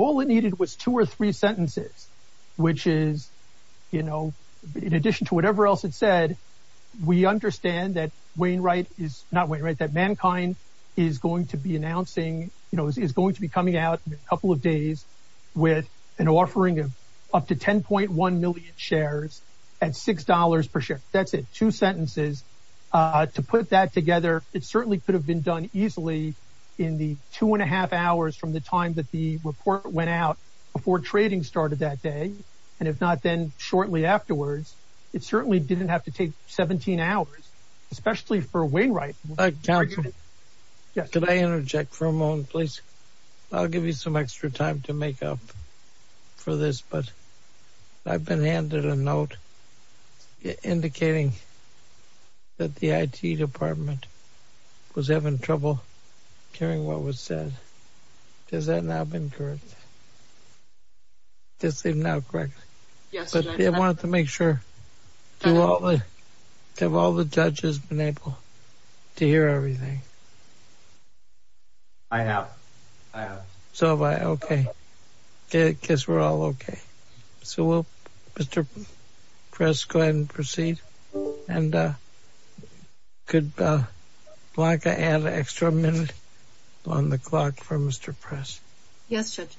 All it needed was two or three sentences, which is, you know, in addition to whatever else it said, we understand that Wainwright is, not Wainwright, that Mankind is going to be announcing, you know, is going to be coming out in a couple of days with an offering of up to 10.1 million shares at $6 per share. That's it. Two sentences. To put that together, it certainly could have been done easily in the two and a half hours from the time that the report went out before trading started that day, and if not then shortly afterwards. It certainly didn't have to take 17 hours, especially for Wainwright. Could I interject for a moment, please? I'll give you some extra time to make up for this, but I've been handed a note indicating that the IT department was having trouble hearing what was said. Has that now been corrected? Yes, they've now corrected. I wanted to make sure. Have all the judges been able to hear everything? I have. So have I. Okay. I guess we're all okay. So Mr. Press, go ahead and proceed. And could Blanca add an extra minute on the clock for Mr. Press? Yes, Judge.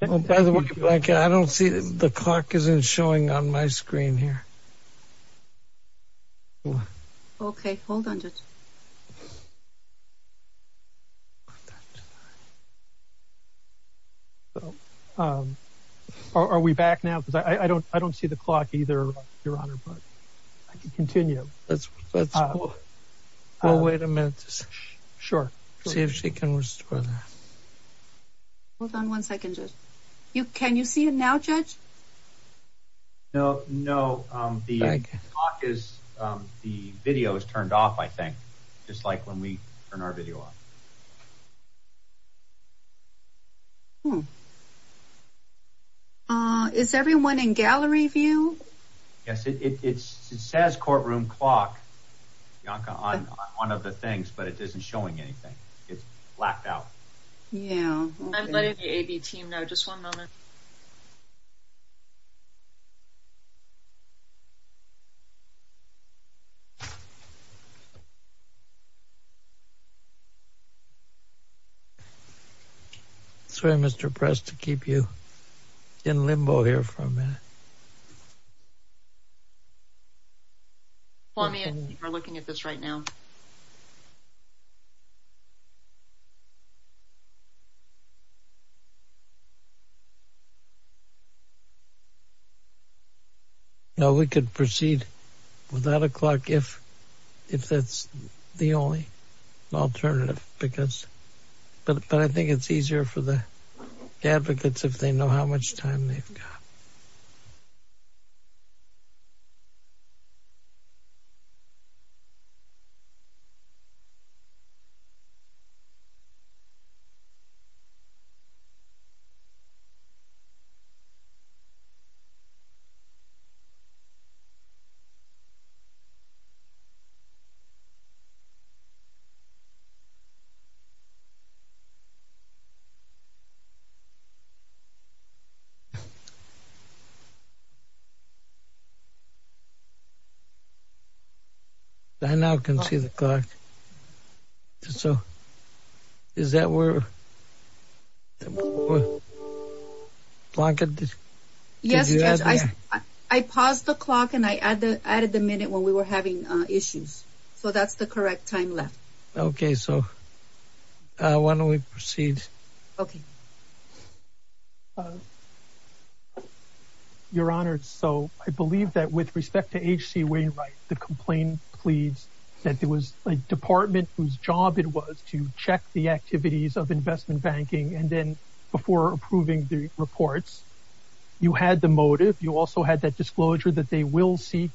By the way, Blanca, I don't see the clock isn't showing on my screen here. Okay, hold on, Judge. Are we back now? I don't see the clock either, Your Honor, but I can continue. Let's wait a minute to see if she can restore that. Hold on one second, Judge. Can you see it now, Judge? No, the clock is, the video is turned off, I think, just like when we turn our video off. Okay. Is everyone in gallery view? Yes, it says courtroom clock, Blanca, on one of the things, but it isn't showing anything. It's blacked out. Yeah. I'm letting the A.B. team know. Just one moment. Sorry, Mr. Press, to keep you in limbo here for a minute. We're looking at this right now. No, we could proceed with that o'clock if that's the only alternative because, but I think it's easier for the advocates if they know how much time they've got. I now can see the clock. So is that where, Blanca? Yes, Judge, I paused the clock and I added the minute when we were having issues. So that's the correct time left. Okay, so why don't we proceed? Okay. Your Honor, so I believe that with respect to H.C. Wainwright, the complaint pleads that it was a department whose job it was to check the activities of investment banking and then, before approving the reports, you had the motive. You also had that disclosure that they will seek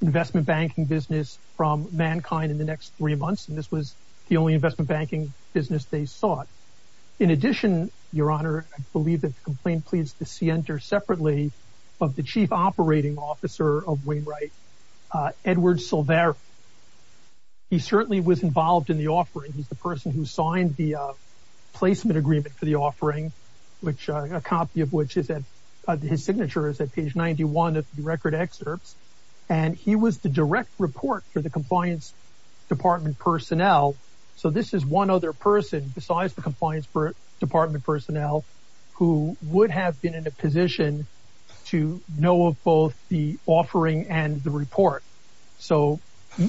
investment banking business from mankind in the next three months, and this was the only investment banking business they sought. In addition, Your Honor, I believe that the complaint pleads to see enter separately of the chief operating officer of Wainwright, Edward Silvera. He certainly was involved in the offering. He's the person who signed the placement agreement for the offering, which a copy of which is at his signature is at page 91 of the record excerpts, and he was the direct report for the compliance department personnel. So this is one other person besides the compliance department personnel who would have been in a position to know of both the offering and the report. So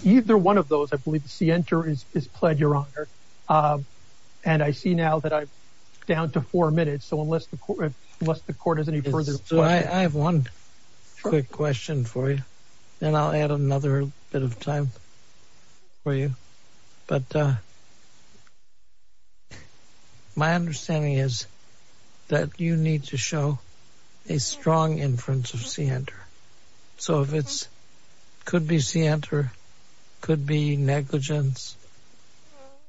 either one of those, I believe, see enter is pled, Your Honor, and I see now that I'm down to four minutes. So unless the court is any further, I have one quick question for you, and I'll add another bit of time for you. But my understanding is that you need to show a strong inference of see enter. So if it's could be see enter, could be negligence,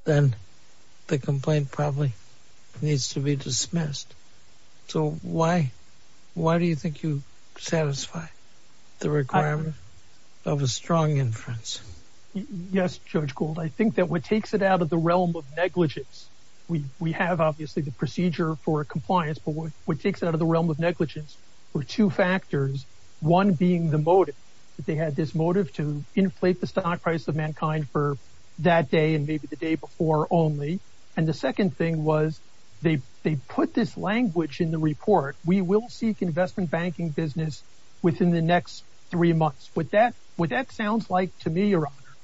then the complaint probably needs to be dismissed. So why do you think you satisfy the requirement of a strong inference? Yes, Judge Gould, I think that what takes it out of the realm of negligence, we have obviously the procedure for compliance, but what takes it out of the realm of negligence were two factors, one being the motive. They had this motive to inflate the stock price of mankind for that day and maybe the day before only. And the second thing was they put this language in the report, we will seek investment banking business within the next three months. What that sounds like to me, Your Honor,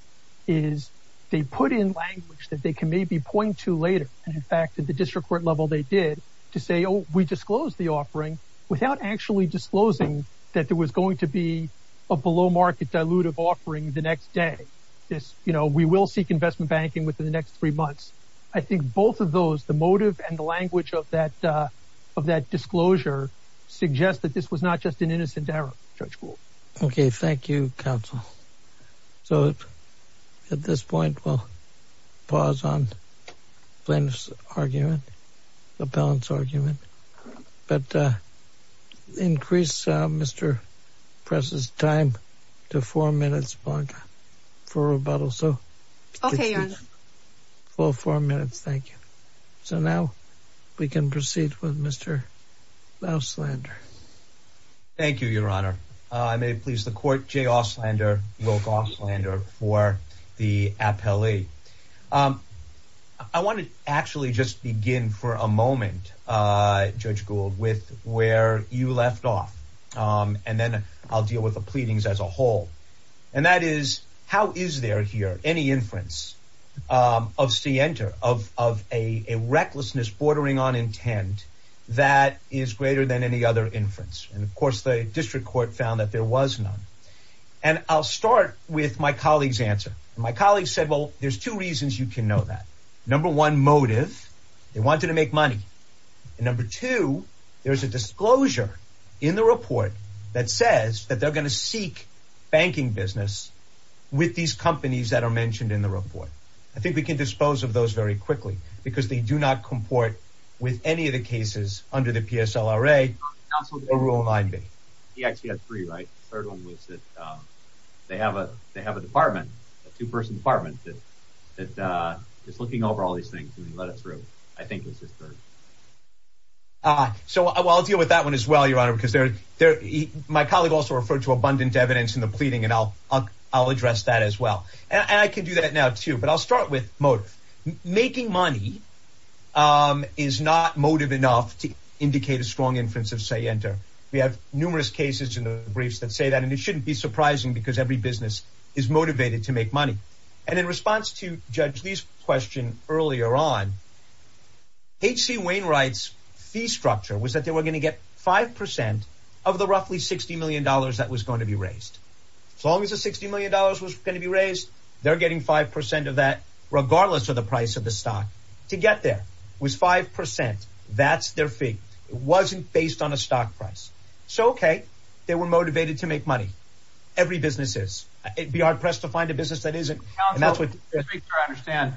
is they put in language that they can maybe point to later. And in fact, at the district court level, they did to say, oh, we disclosed the offering without actually disclosing that there was going to be a below market dilutive offering the next day. This, you know, we will seek investment banking within the next three months. I think both of those, the motive and the language of that of that disclosure suggest that this was not just an innocent error, Judge Gould. Okay, thank you, counsel. So at this point, we'll pause on Flynn's argument, the balance argument, but increase Mr. Press's time to four minutes for rebuttal. So four minutes. Thank you. So now we can proceed with Mr. Auslander. Thank you, Your Honor. I may please the court, Jay Auslander, Wilk Auslander for the appellee. I want to actually just begin for a moment, Judge Gould, with where you left off, and then I'll deal with the pleadings as a whole. And that is, how is there here any inference of scienter, of a recklessness bordering on intent that is greater than any other inference? And of course, the district court found that there was none. And I'll start with my colleague's There's two reasons you can know that. Number one motive, they wanted to make money. And number two, there's a disclosure in the report that says that they're going to seek banking business with these companies that are mentioned in the report. I think we can dispose of those very quickly because they do not comport with any of the cases under the PSLRA or Rule 9B. He actually had three, right? The third one was that they have a department, a two-person department that is looking over all these things and let us through, I think was his third. So I'll deal with that one as well, Your Honor, because my colleague also referred to abundant evidence in the pleading, and I'll address that as well. And I can do that now too, but I'll start with motive. Making money is not motive enough to numerous cases in the briefs that say that, and it shouldn't be surprising because every business is motivated to make money. And in response to Judge Lee's question earlier on, H.C. Wainwright's fee structure was that they were going to get 5% of the roughly $60 million that was going to be raised. As long as the $60 million was going to be raised, they're getting 5% of that, regardless of the price of the stock. To get there was 5%. That's their fee. It wasn't based on a stock price. So, okay, they were motivated to make money. Every business is. It'd be hard-pressed to find a business that isn't, and that's what- Counselor, as far as I understand,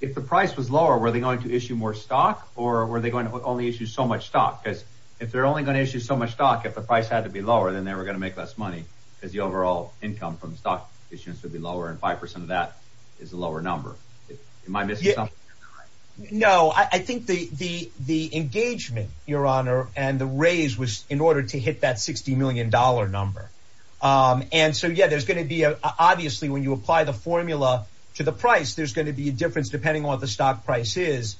if the price was lower, were they going to issue more stock, or were they going to only issue so much stock? Because if they're only going to issue so much stock, if the price had to be lower, then they were going to make less money because the overall income from the stock issuance would be lower, and 5% of that is a lower number. Am I missing something? No. I think the engagement, Your Honor, and the raise was in order to hit that $60 million number. Obviously, when you apply the formula to the price, there's going to be a difference depending on what the stock price is,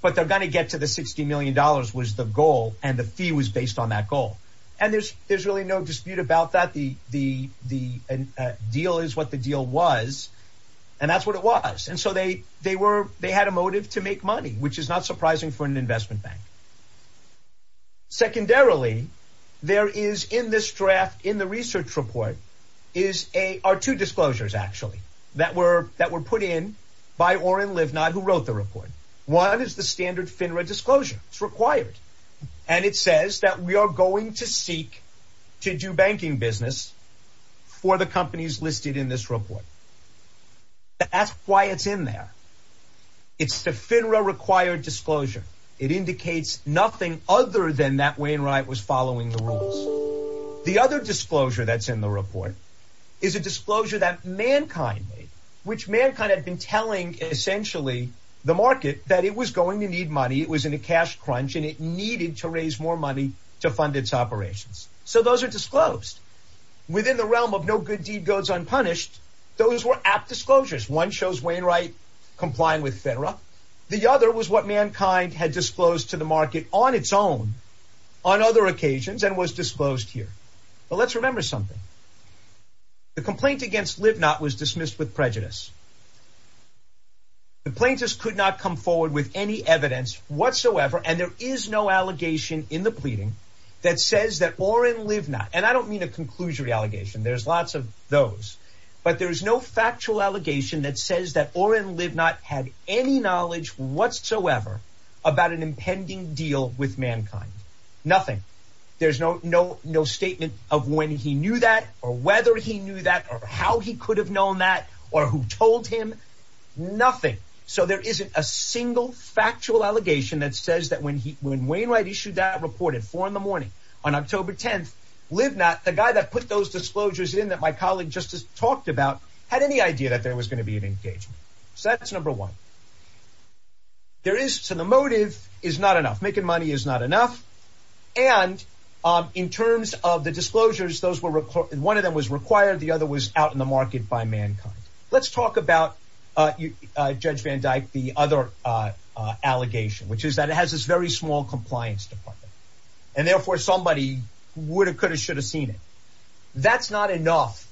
but they're going to get to the $60 million was the goal, and the fee was based on that goal. There's really no dispute about that. The deal is what the deal was, and that's what it was. They had a motive to make money, which is not surprising for an investment bank. Secondarily, there is, in this draft, in the research report, are two disclosures, actually, that were put in by Oren Livnod, who wrote the report. One is the standard FINRA disclosure. It's required, and it says that we in this report. That's why it's in there. It's the FINRA-required disclosure. It indicates nothing other than that Wainwright was following the rules. The other disclosure that's in the report is a disclosure that Mankind made, which Mankind had been telling, essentially, the market that it was going to need money. It was in a cash crunch, and it needed to raise more money to fund its operations. So those are disclosed. Within the realm of no good deed goes unpunished, those were apt disclosures. One shows Wainwright complying with FINRA. The other was what Mankind had disclosed to the market on its own, on other occasions, and was disclosed here. But let's remember something. The complaint against Livnod was dismissed with prejudice. The plaintiffs could not come forward with any evidence whatsoever, and there is no allegation in the pleading that says that Orrin Livnod, and I don't mean a conclusory allegation. There's lots of those. But there's no factual allegation that says that Orrin Livnod had any knowledge whatsoever about an impending deal with Mankind. Nothing. There's no statement of when he knew that, or whether he knew that, or how he could have known that, or who told him. Nothing. So there isn't a single factual allegation that says that when Wainwright issued that report at four in the morning on October 10th, Livnod, the guy that put those disclosures in that my colleague just talked about, had any idea that there was going to be an engagement. So that's number one. There is, so the motive is not enough. Making money is not enough. And in terms of the disclosures, one of them was required, the other was out in the market by Mankind. Let's talk about, Judge Van Dyke, the other allegation, which is that it has this very small compliance department, and therefore somebody would have, could have, should have seen it. That's not enough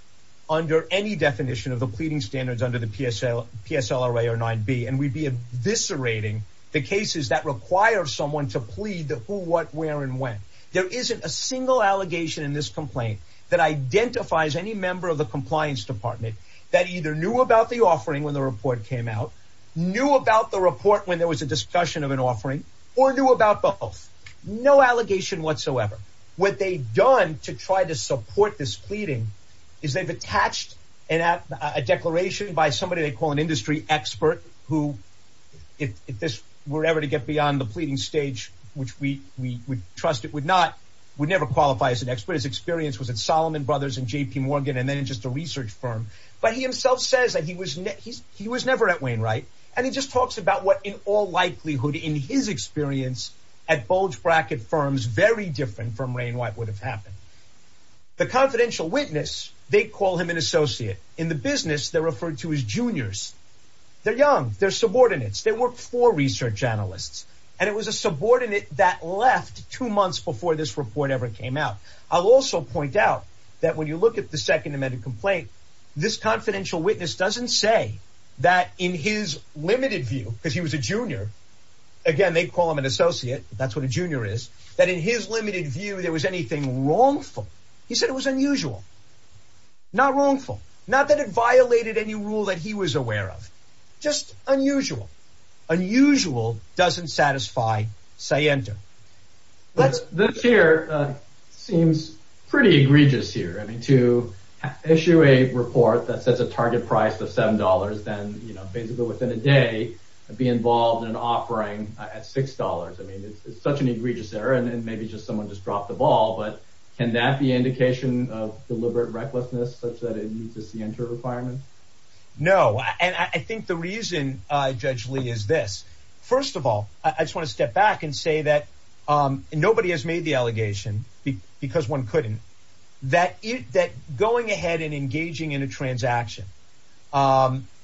under any definition of the pleading standards under the PSLRA or 9b, and we'd be eviscerating the cases that require someone to plead the who, what, where, and when. There isn't a single allegation in this complaint that identifies any member of the compliance department that either knew about the offering when the report came out, knew about the report when there was a discussion of an offering, or knew about both. No allegation whatsoever. What they've done to try to support this pleading is they've attached a declaration by somebody they call an industry expert who, if this were ever to get beyond the pleading stage, which we would trust it would not, would never qualify as an expert. His experience was at but he himself says that he was, he was never at Wainwright, and he just talks about what, in all likelihood, in his experience at bulge bracket firms very different from Rainwight would have happened. The confidential witness, they call him an associate. In the business, they're referred to as juniors. They're young. They're subordinates. They work for research analysts, and it was a subordinate that left two months before this complaint. This confidential witness doesn't say that in his limited view, because he was a junior, again, they call him an associate. That's what a junior is. That in his limited view, there was anything wrongful. He said it was unusual. Not wrongful. Not that it violated any rule that he was aware of. Just unusual. Unusual doesn't satisfy Siento. Let's, this here seems pretty egregious here. I mean, to issue a report that sets a target price of seven dollars, then, you know, basically within a day, be involved in offering at six dollars. I mean, it's such an egregious error, and maybe just someone just dropped the ball, but can that be indication of deliberate recklessness such that it meets the Siento requirement? No, and I think the Judge Lee is this. First of all, I just want to step back and say that nobody has made the allegation, because one couldn't, that going ahead and engaging in a transaction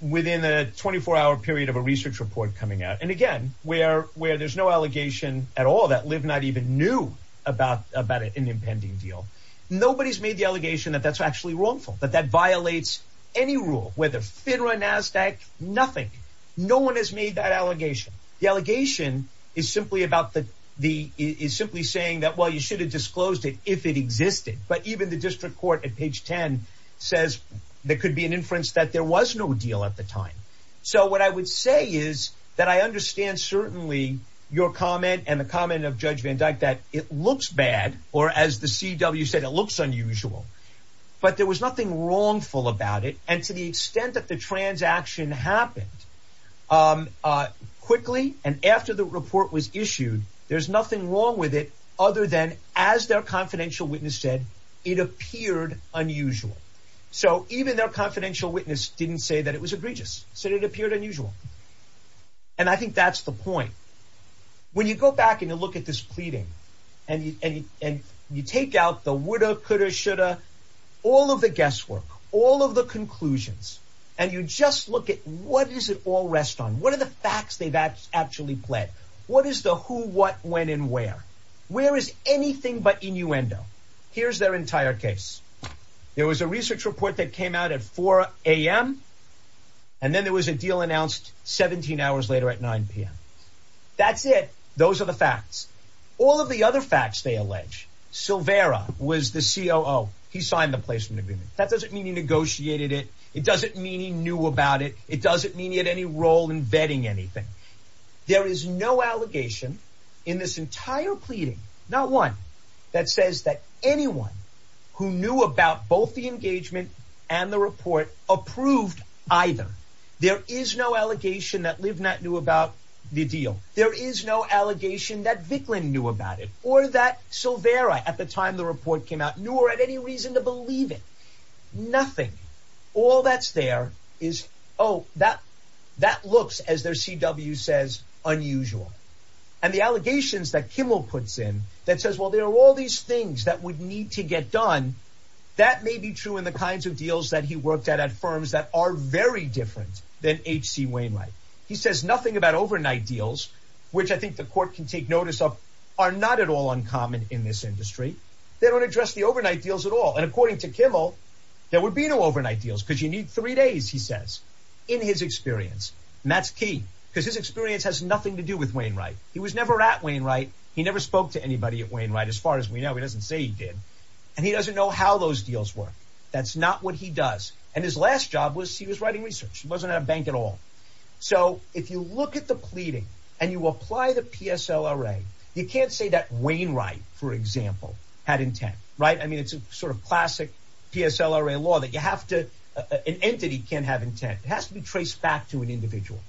within a 24-hour period of a research report coming out, and again, where there's no allegation at all that Liv not even knew about an impending deal, nobody's made the allegation that that's actually wrongful, but that violates any rule, whether FINRA, NASDAQ, nothing. No one has made that allegation. The allegation is simply about the, is simply saying that, well, you should have disclosed it if it existed, but even the district court at page 10 says there could be an inference that there was no deal at the time. So what I would say is that I understand certainly your comment and the comment of Judge Van Dyck that it looks bad, or as the CW said, it looks unusual, but there was nothing wrongful about it, and to the extent that the transaction happened quickly and after the report was issued, there's nothing wrong with it other than, as their confidential witness said, it appeared unusual. So even their confidential witness didn't say that it was egregious, said it appeared unusual, and I think that's the point. When you go back and you look at this pleading and you take out the woulda, coulda, shoulda, all of the guesswork, all of the conclusions, and you just look at what does it all rest on? What are the facts they've actually pled? What is the who, what, when, and where? Where is anything but innuendo? Here's their entire case. There was a research report that came out at 4am, and then there was a deal announced 17 hours later at 9pm. That's it. Those are the facts. All of the other facts they allege. Silvera was the COO. He signed the placement agreement. That doesn't mean he negotiated it. It doesn't mean he knew about it. It doesn't mean he had any role in vetting anything. There is no allegation in this entire pleading, not one, that says that who knew about both the engagement and the report approved either. There is no allegation that Livnat knew about the deal. There is no allegation that Vicklin knew about it or that Silvera, at the time the report came out, knew or had any reason to believe it. Nothing. All that's there is, oh, that looks, as their CW says, unusual. And the allegations that Kimmel puts in that says, there are all these things that would need to get done. That may be true in the kinds of deals that he worked at, at firms that are very different than H.C. Wainwright. He says nothing about overnight deals, which I think the court can take notice of, are not at all uncommon in this industry. They don't address the overnight deals at all. And according to Kimmel, there would be no overnight deals because you need three days, he says, in his experience. And that's key because his experience has nothing to do with Wainwright. He was never at Wainwright. He never spoke to anybody at Wainwright as far as we know. He doesn't say he did. And he doesn't know how those deals work. That's not what he does. And his last job was, he was writing research. He wasn't at a bank at all. So if you look at the pleading and you apply the PSLRA, you can't say that Wainwright, for example, had intent, right? I mean, it's a sort of classic PSLRA law that you have to, an entity can't have intent. It has to be traced back to an individual.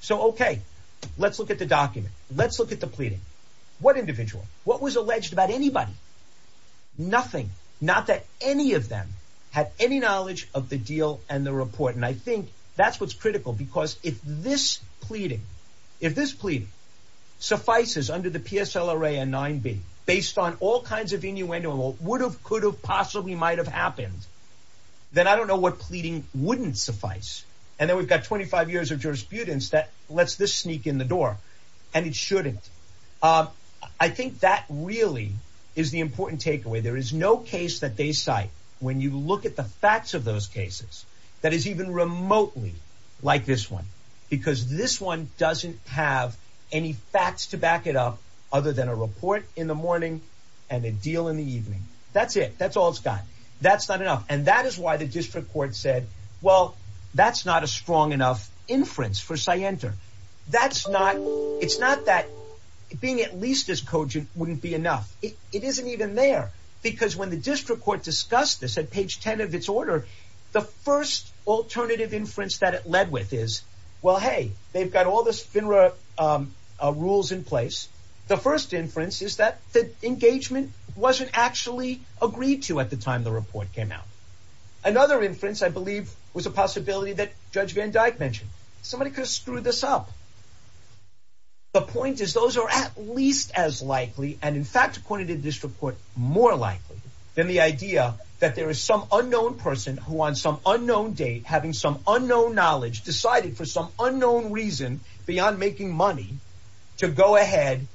So, okay, let's look at the document. Let's look at the pleading. What individual? What was alleged about anybody? Nothing. Not that any of them had any knowledge of the deal and the report. And I think that's what's critical because if this pleading, if this plea suffices under the PSLRA and 9b, based on all kinds of innuendos, what would have, could have, possibly might have happened, then I don't know what pleading wouldn't suffice. And then we've got 25 years of jurisprudence that lets this sneak in the door and it shouldn't. I think that really is the important takeaway. There is no case that they cite when you look at the facts of those cases that is even remotely like this one, because this one doesn't have any facts to back it up other than a report in the morning and a deal in the evening. That's it. That's all it's got. That's not enough. And that that's not, it's not that being at least as cogent wouldn't be enough. It isn't even there because when the district court discussed this at page 10 of its order, the first alternative inference that it led with is, well, hey, they've got all this FINRA rules in place. The first inference is that the engagement wasn't actually agreed to at the time the report came out. Another inference I believe was a possibility that Judge Van Dyck mentioned. Somebody could screw this up. The point is, those are at least as likely and in fact, according to this report, more likely than the idea that there is some unknown person who on some unknown date, having some unknown knowledge, decided for some unknown reason beyond making money to go ahead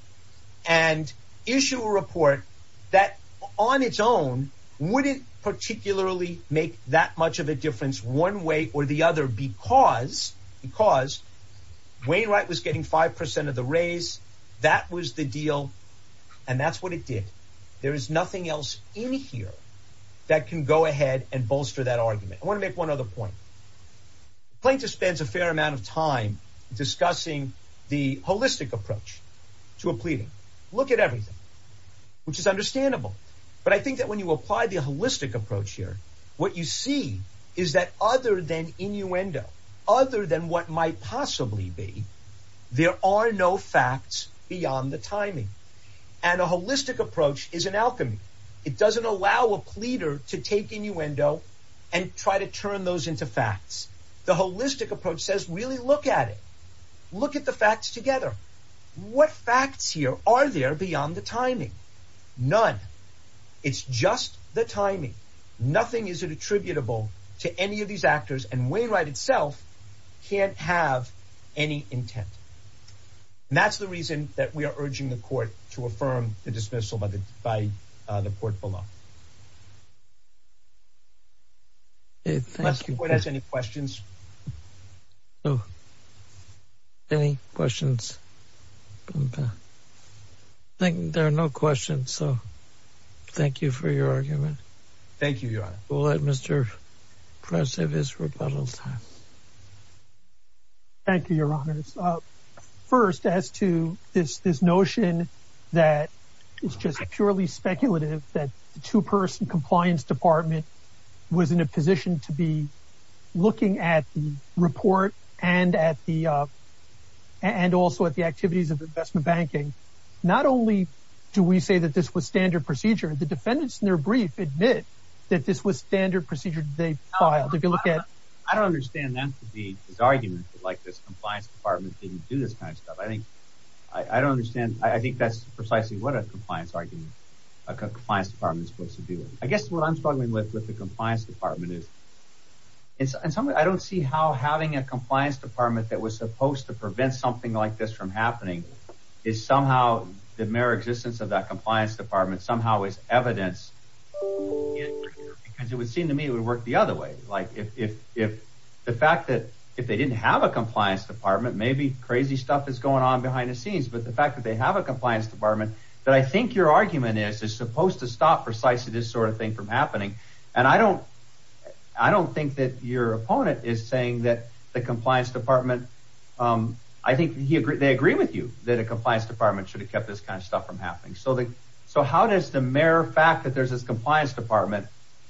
and issue a report that on its own wouldn't particularly make that much of a difference one way or the other, because, because Wainwright was getting 5% of the raise. That was the deal. And that's what it did. There is nothing else in here that can go ahead and bolster that argument. I want to make one other point. Plaintiff spends a fair amount of time discussing the holistic approach to a pleading. Look at everything, which is understandable. But I think that when you apply the holistic approach here, what you see is that other than innuendo, other than what might possibly be, there are no facts beyond the timing. And a holistic approach is an alchemy. It doesn't allow a pleader to take innuendo and try to turn those into facts. The holistic approach says, really look at it. Look at the facts together. What facts here are there beyond the timing? None. It's just the timing. Nothing is attributable to any of these actors. And Wainwright itself can't have any intent. And that's the reason that we are urging the court to affirm the dismissal by the court below. Thank you. Mr. Boyd, any questions? No. Any questions? I think there are no questions. So thank you for your argument. Thank you, Your Honor. We'll let Mr. Press have his rebuttal time. Thank you, Your Honors. First, as to this notion that it's just purely speculative, that the two-person compliance department was in a position to be looking at the report and also at the activities of investment banking, not only do we say that this was standard procedure, the defendants in their brief admit that this was standard procedure they filed. If you look at- I don't understand that to be his argument, that this compliance department didn't do this kind of stuff. I think that's precisely what a compliance argument is supposed to do. I guess what I'm struggling with with the compliance department is- I don't see how having a compliance department that was supposed to prevent something like this from happening is somehow the mere existence of that compliance department somehow is evidence. Because it would seem to me it would work the other way. Like if the fact that if they didn't have a compliance department, maybe crazy stuff is going on behind the scenes. But the fact that they have a compliance department that I think your argument is, is supposed to stop precisely this sort of thing from happening. And I don't think that your opponent is saying that the compliance department- I think they agree with you that a compliance department should have kept this kind of stuff from happening. So how does the mere fact that there's this compliance department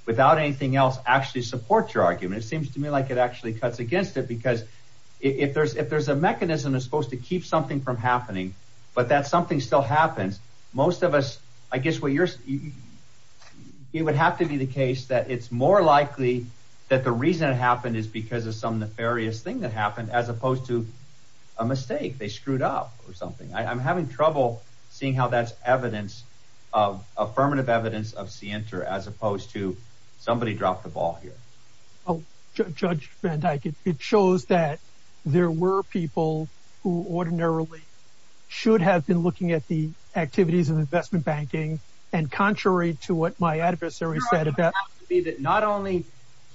without anything else actually support your argument? It seems to me like it actually cuts against it because if there's a mechanism that's supposed to keep something from happening, but that something still happens, most of us- I guess what you're- it would have to be the case that it's more likely that the reason it happened is because of some nefarious thing that happened as opposed to a mistake. They screwed up or something. I'm having trouble seeing how that's evidence of affirmative evidence of scienter as opposed to somebody dropped the ball here. Judge Van Dyke, it shows that there were people who ordinarily should have been looking at the activities of investment banking and contrary to what my adversary said about- Your argument has to be that not only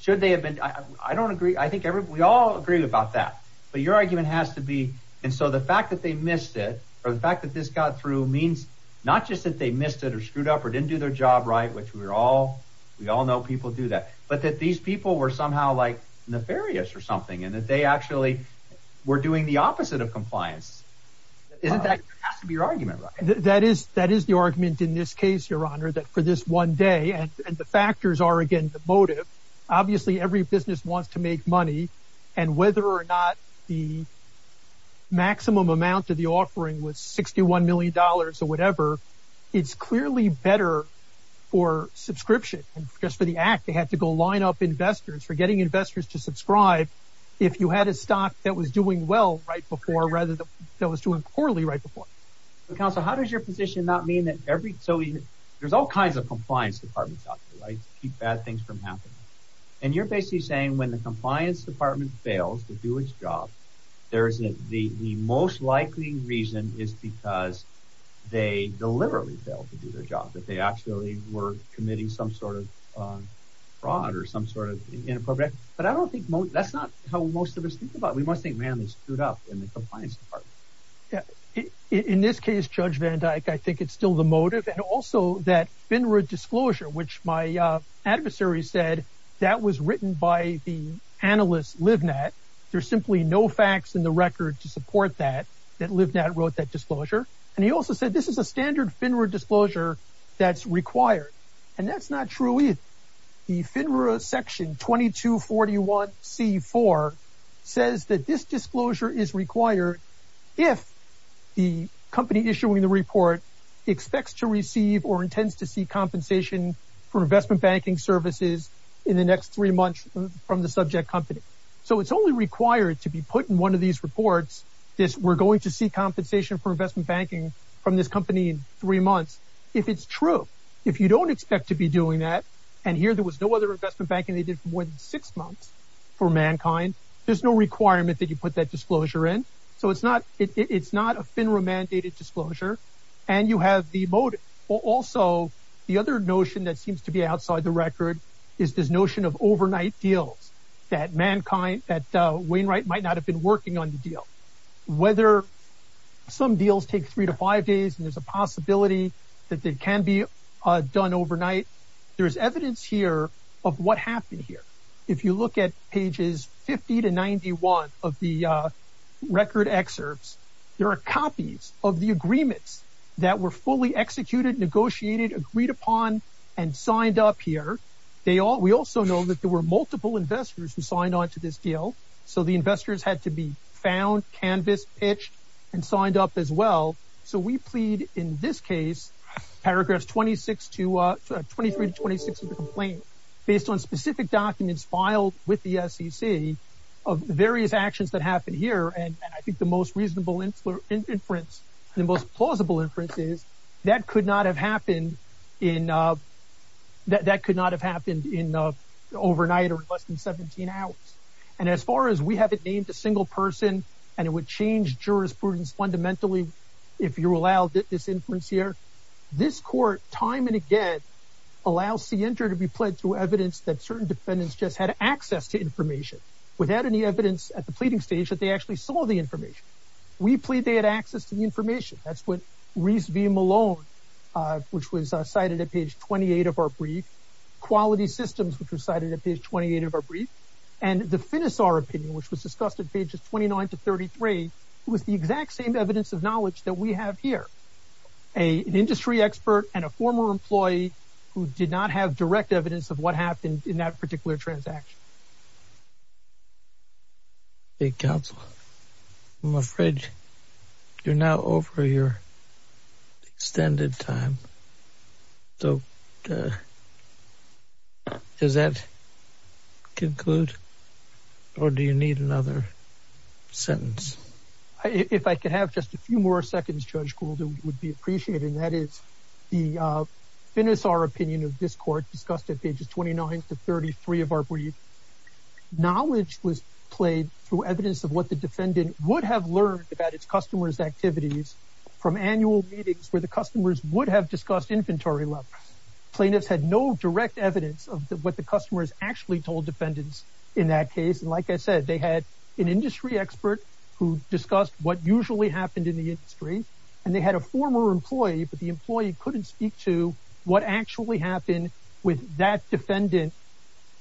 should they have been- I don't agree. I think we all agree about that. But your argument has to be- and so the fact that they missed it or the fact that this got through means not just that they missed it or screwed up or didn't do their job right, which we're all- we all know people do that, but that these people were somehow like nefarious or something and that they actually were doing the opposite of compliance. Isn't that- has to be your argument, right? That is- that is the argument in this case, your honor, that for this one day and the factors are again the motive. Obviously, every business wants to make money and whether or not the maximum amount of the offering was $61 million or whatever, it's clearly better for subscription and just for the act. They had to go line up investors for getting investors to subscribe if you had a stock that was doing well right before rather than that was doing poorly right before. Counsel, how does your position not mean that every- so there's all kinds of compliance departments out there, right, to keep bad things from happening. And you're basically saying when the compliance department fails to do its job, there's a- the most likely reason is because they deliberately failed to do their job, that they actually were committing some sort of fraud or some sort of inappropriate- but I don't think most- that's not how most of us think about it. We must think, man, they screwed up in the compliance department. Yeah, in this case, Judge Van Dyke, I think it's still the motive and also that FinRood disclosure, which my adversary said that was written by the analyst Livnat. There's simply no facts in the record to support that, that Livnat wrote that disclosure. And he also said this is a standard FinRood disclosure that's required. And that's not true either. The FinRood section 2241c4 says that this disclosure is required if the company issuing the report expects to receive or intends to see compensation for investment banking services in the next three months from the subject company. So it's only required to be put in one of these reports, this we're going to see compensation for investment banking from this company in three months, if it's true. If you don't expect to be doing that, and here there was no other investment banking they did for more than six months for mankind, there's no requirement that you put that disclosure in. So it's not- it's not a FinRood mandated disclosure. And you have the motive. Also, the other notion that seems to be outside the record is this notion of overnight deals that mankind, that Wainwright might not have been working on the deal. Whether some deals take three to five days, and there's a possibility that they can be done overnight. There's evidence here of what happened here. If you look at pages 50 to 91 of the excerpts, there are copies of the agreements that were fully executed, negotiated, agreed upon, and signed up here. They all- we also know that there were multiple investors who signed on to this deal. So the investors had to be found, canvassed, pitched, and signed up as well. So we plead in this case, paragraphs 26 to- 23 to 26 of the complaint, based on specific documents filed with the SEC of various actions that happened here. And I think the most reasonable inference, the most plausible inference is that could not have happened in- that could not have happened in overnight or in less than 17 hours. And as far as we haven't named a single person, and it would change jurisprudence fundamentally if you allow this inference here, this court time and again allows CENTER to be pledged through evidence that certain defendants just had access to information without any evidence at the pleading stage that they actually saw the information. We plead they had access to the information. That's what Reese v. Malone, which was cited at page 28 of our brief, Quality Systems, which was cited at page 28 of our brief, and the Finisar opinion, which was discussed at pages 29 to 33, was the exact same evidence of knowledge that we have here. An industry expert and a former employee who did not have direct evidence of what happened in that particular transaction. Hey, counsel, I'm afraid you're now over your extended time. So does that conclude, or do you need another sentence? If I could have just a few more seconds, Judge Gould, it would be appreciated. And that is the Finisar opinion of this court discussed at pages 29 to 33 of our brief. Knowledge was played through evidence of what the defendant would have learned about its customers' activities from annual meetings where the customers would have discussed inventory levels. Plaintiffs had no direct evidence of what the customers actually told defendants in that case. Like I said, they had an industry expert who discussed what usually happened in the industry, and they had a former employee, but the employee couldn't speak to what actually happened with that defendant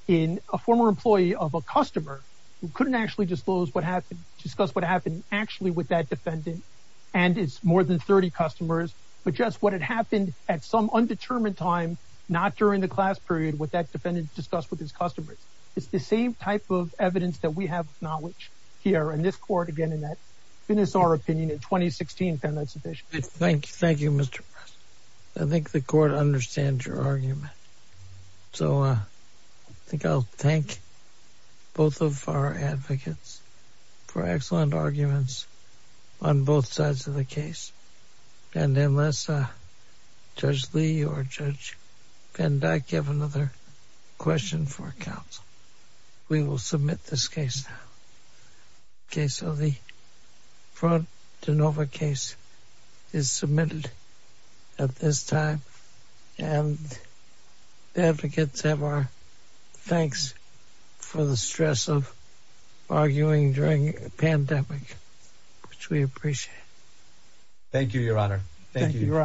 in a former employee of a customer who couldn't actually disclose what happened, discuss what happened actually with that defendant and his more than 30 customers, but just what had happened at some undetermined time, not during the class period, what that defendant discussed with his customers. It's the same type of evidence that we have knowledge here in this court, again, in that Finisar opinion in 2016 found that sufficient. Thank you, Mr. Press. I think the court understands your argument. So I think I'll thank both of our advocates for excellent arguments on both sides of the case. And unless Judge Lee or Judge Van Dyke have another question for counsel, we will submit this case now. Okay, so the front DeNova case is submitted at this time, and the advocates have our thanks for the stress of arguing during a pandemic, which we appreciate. Thank you, Your Honor. Thank you, Your Honor.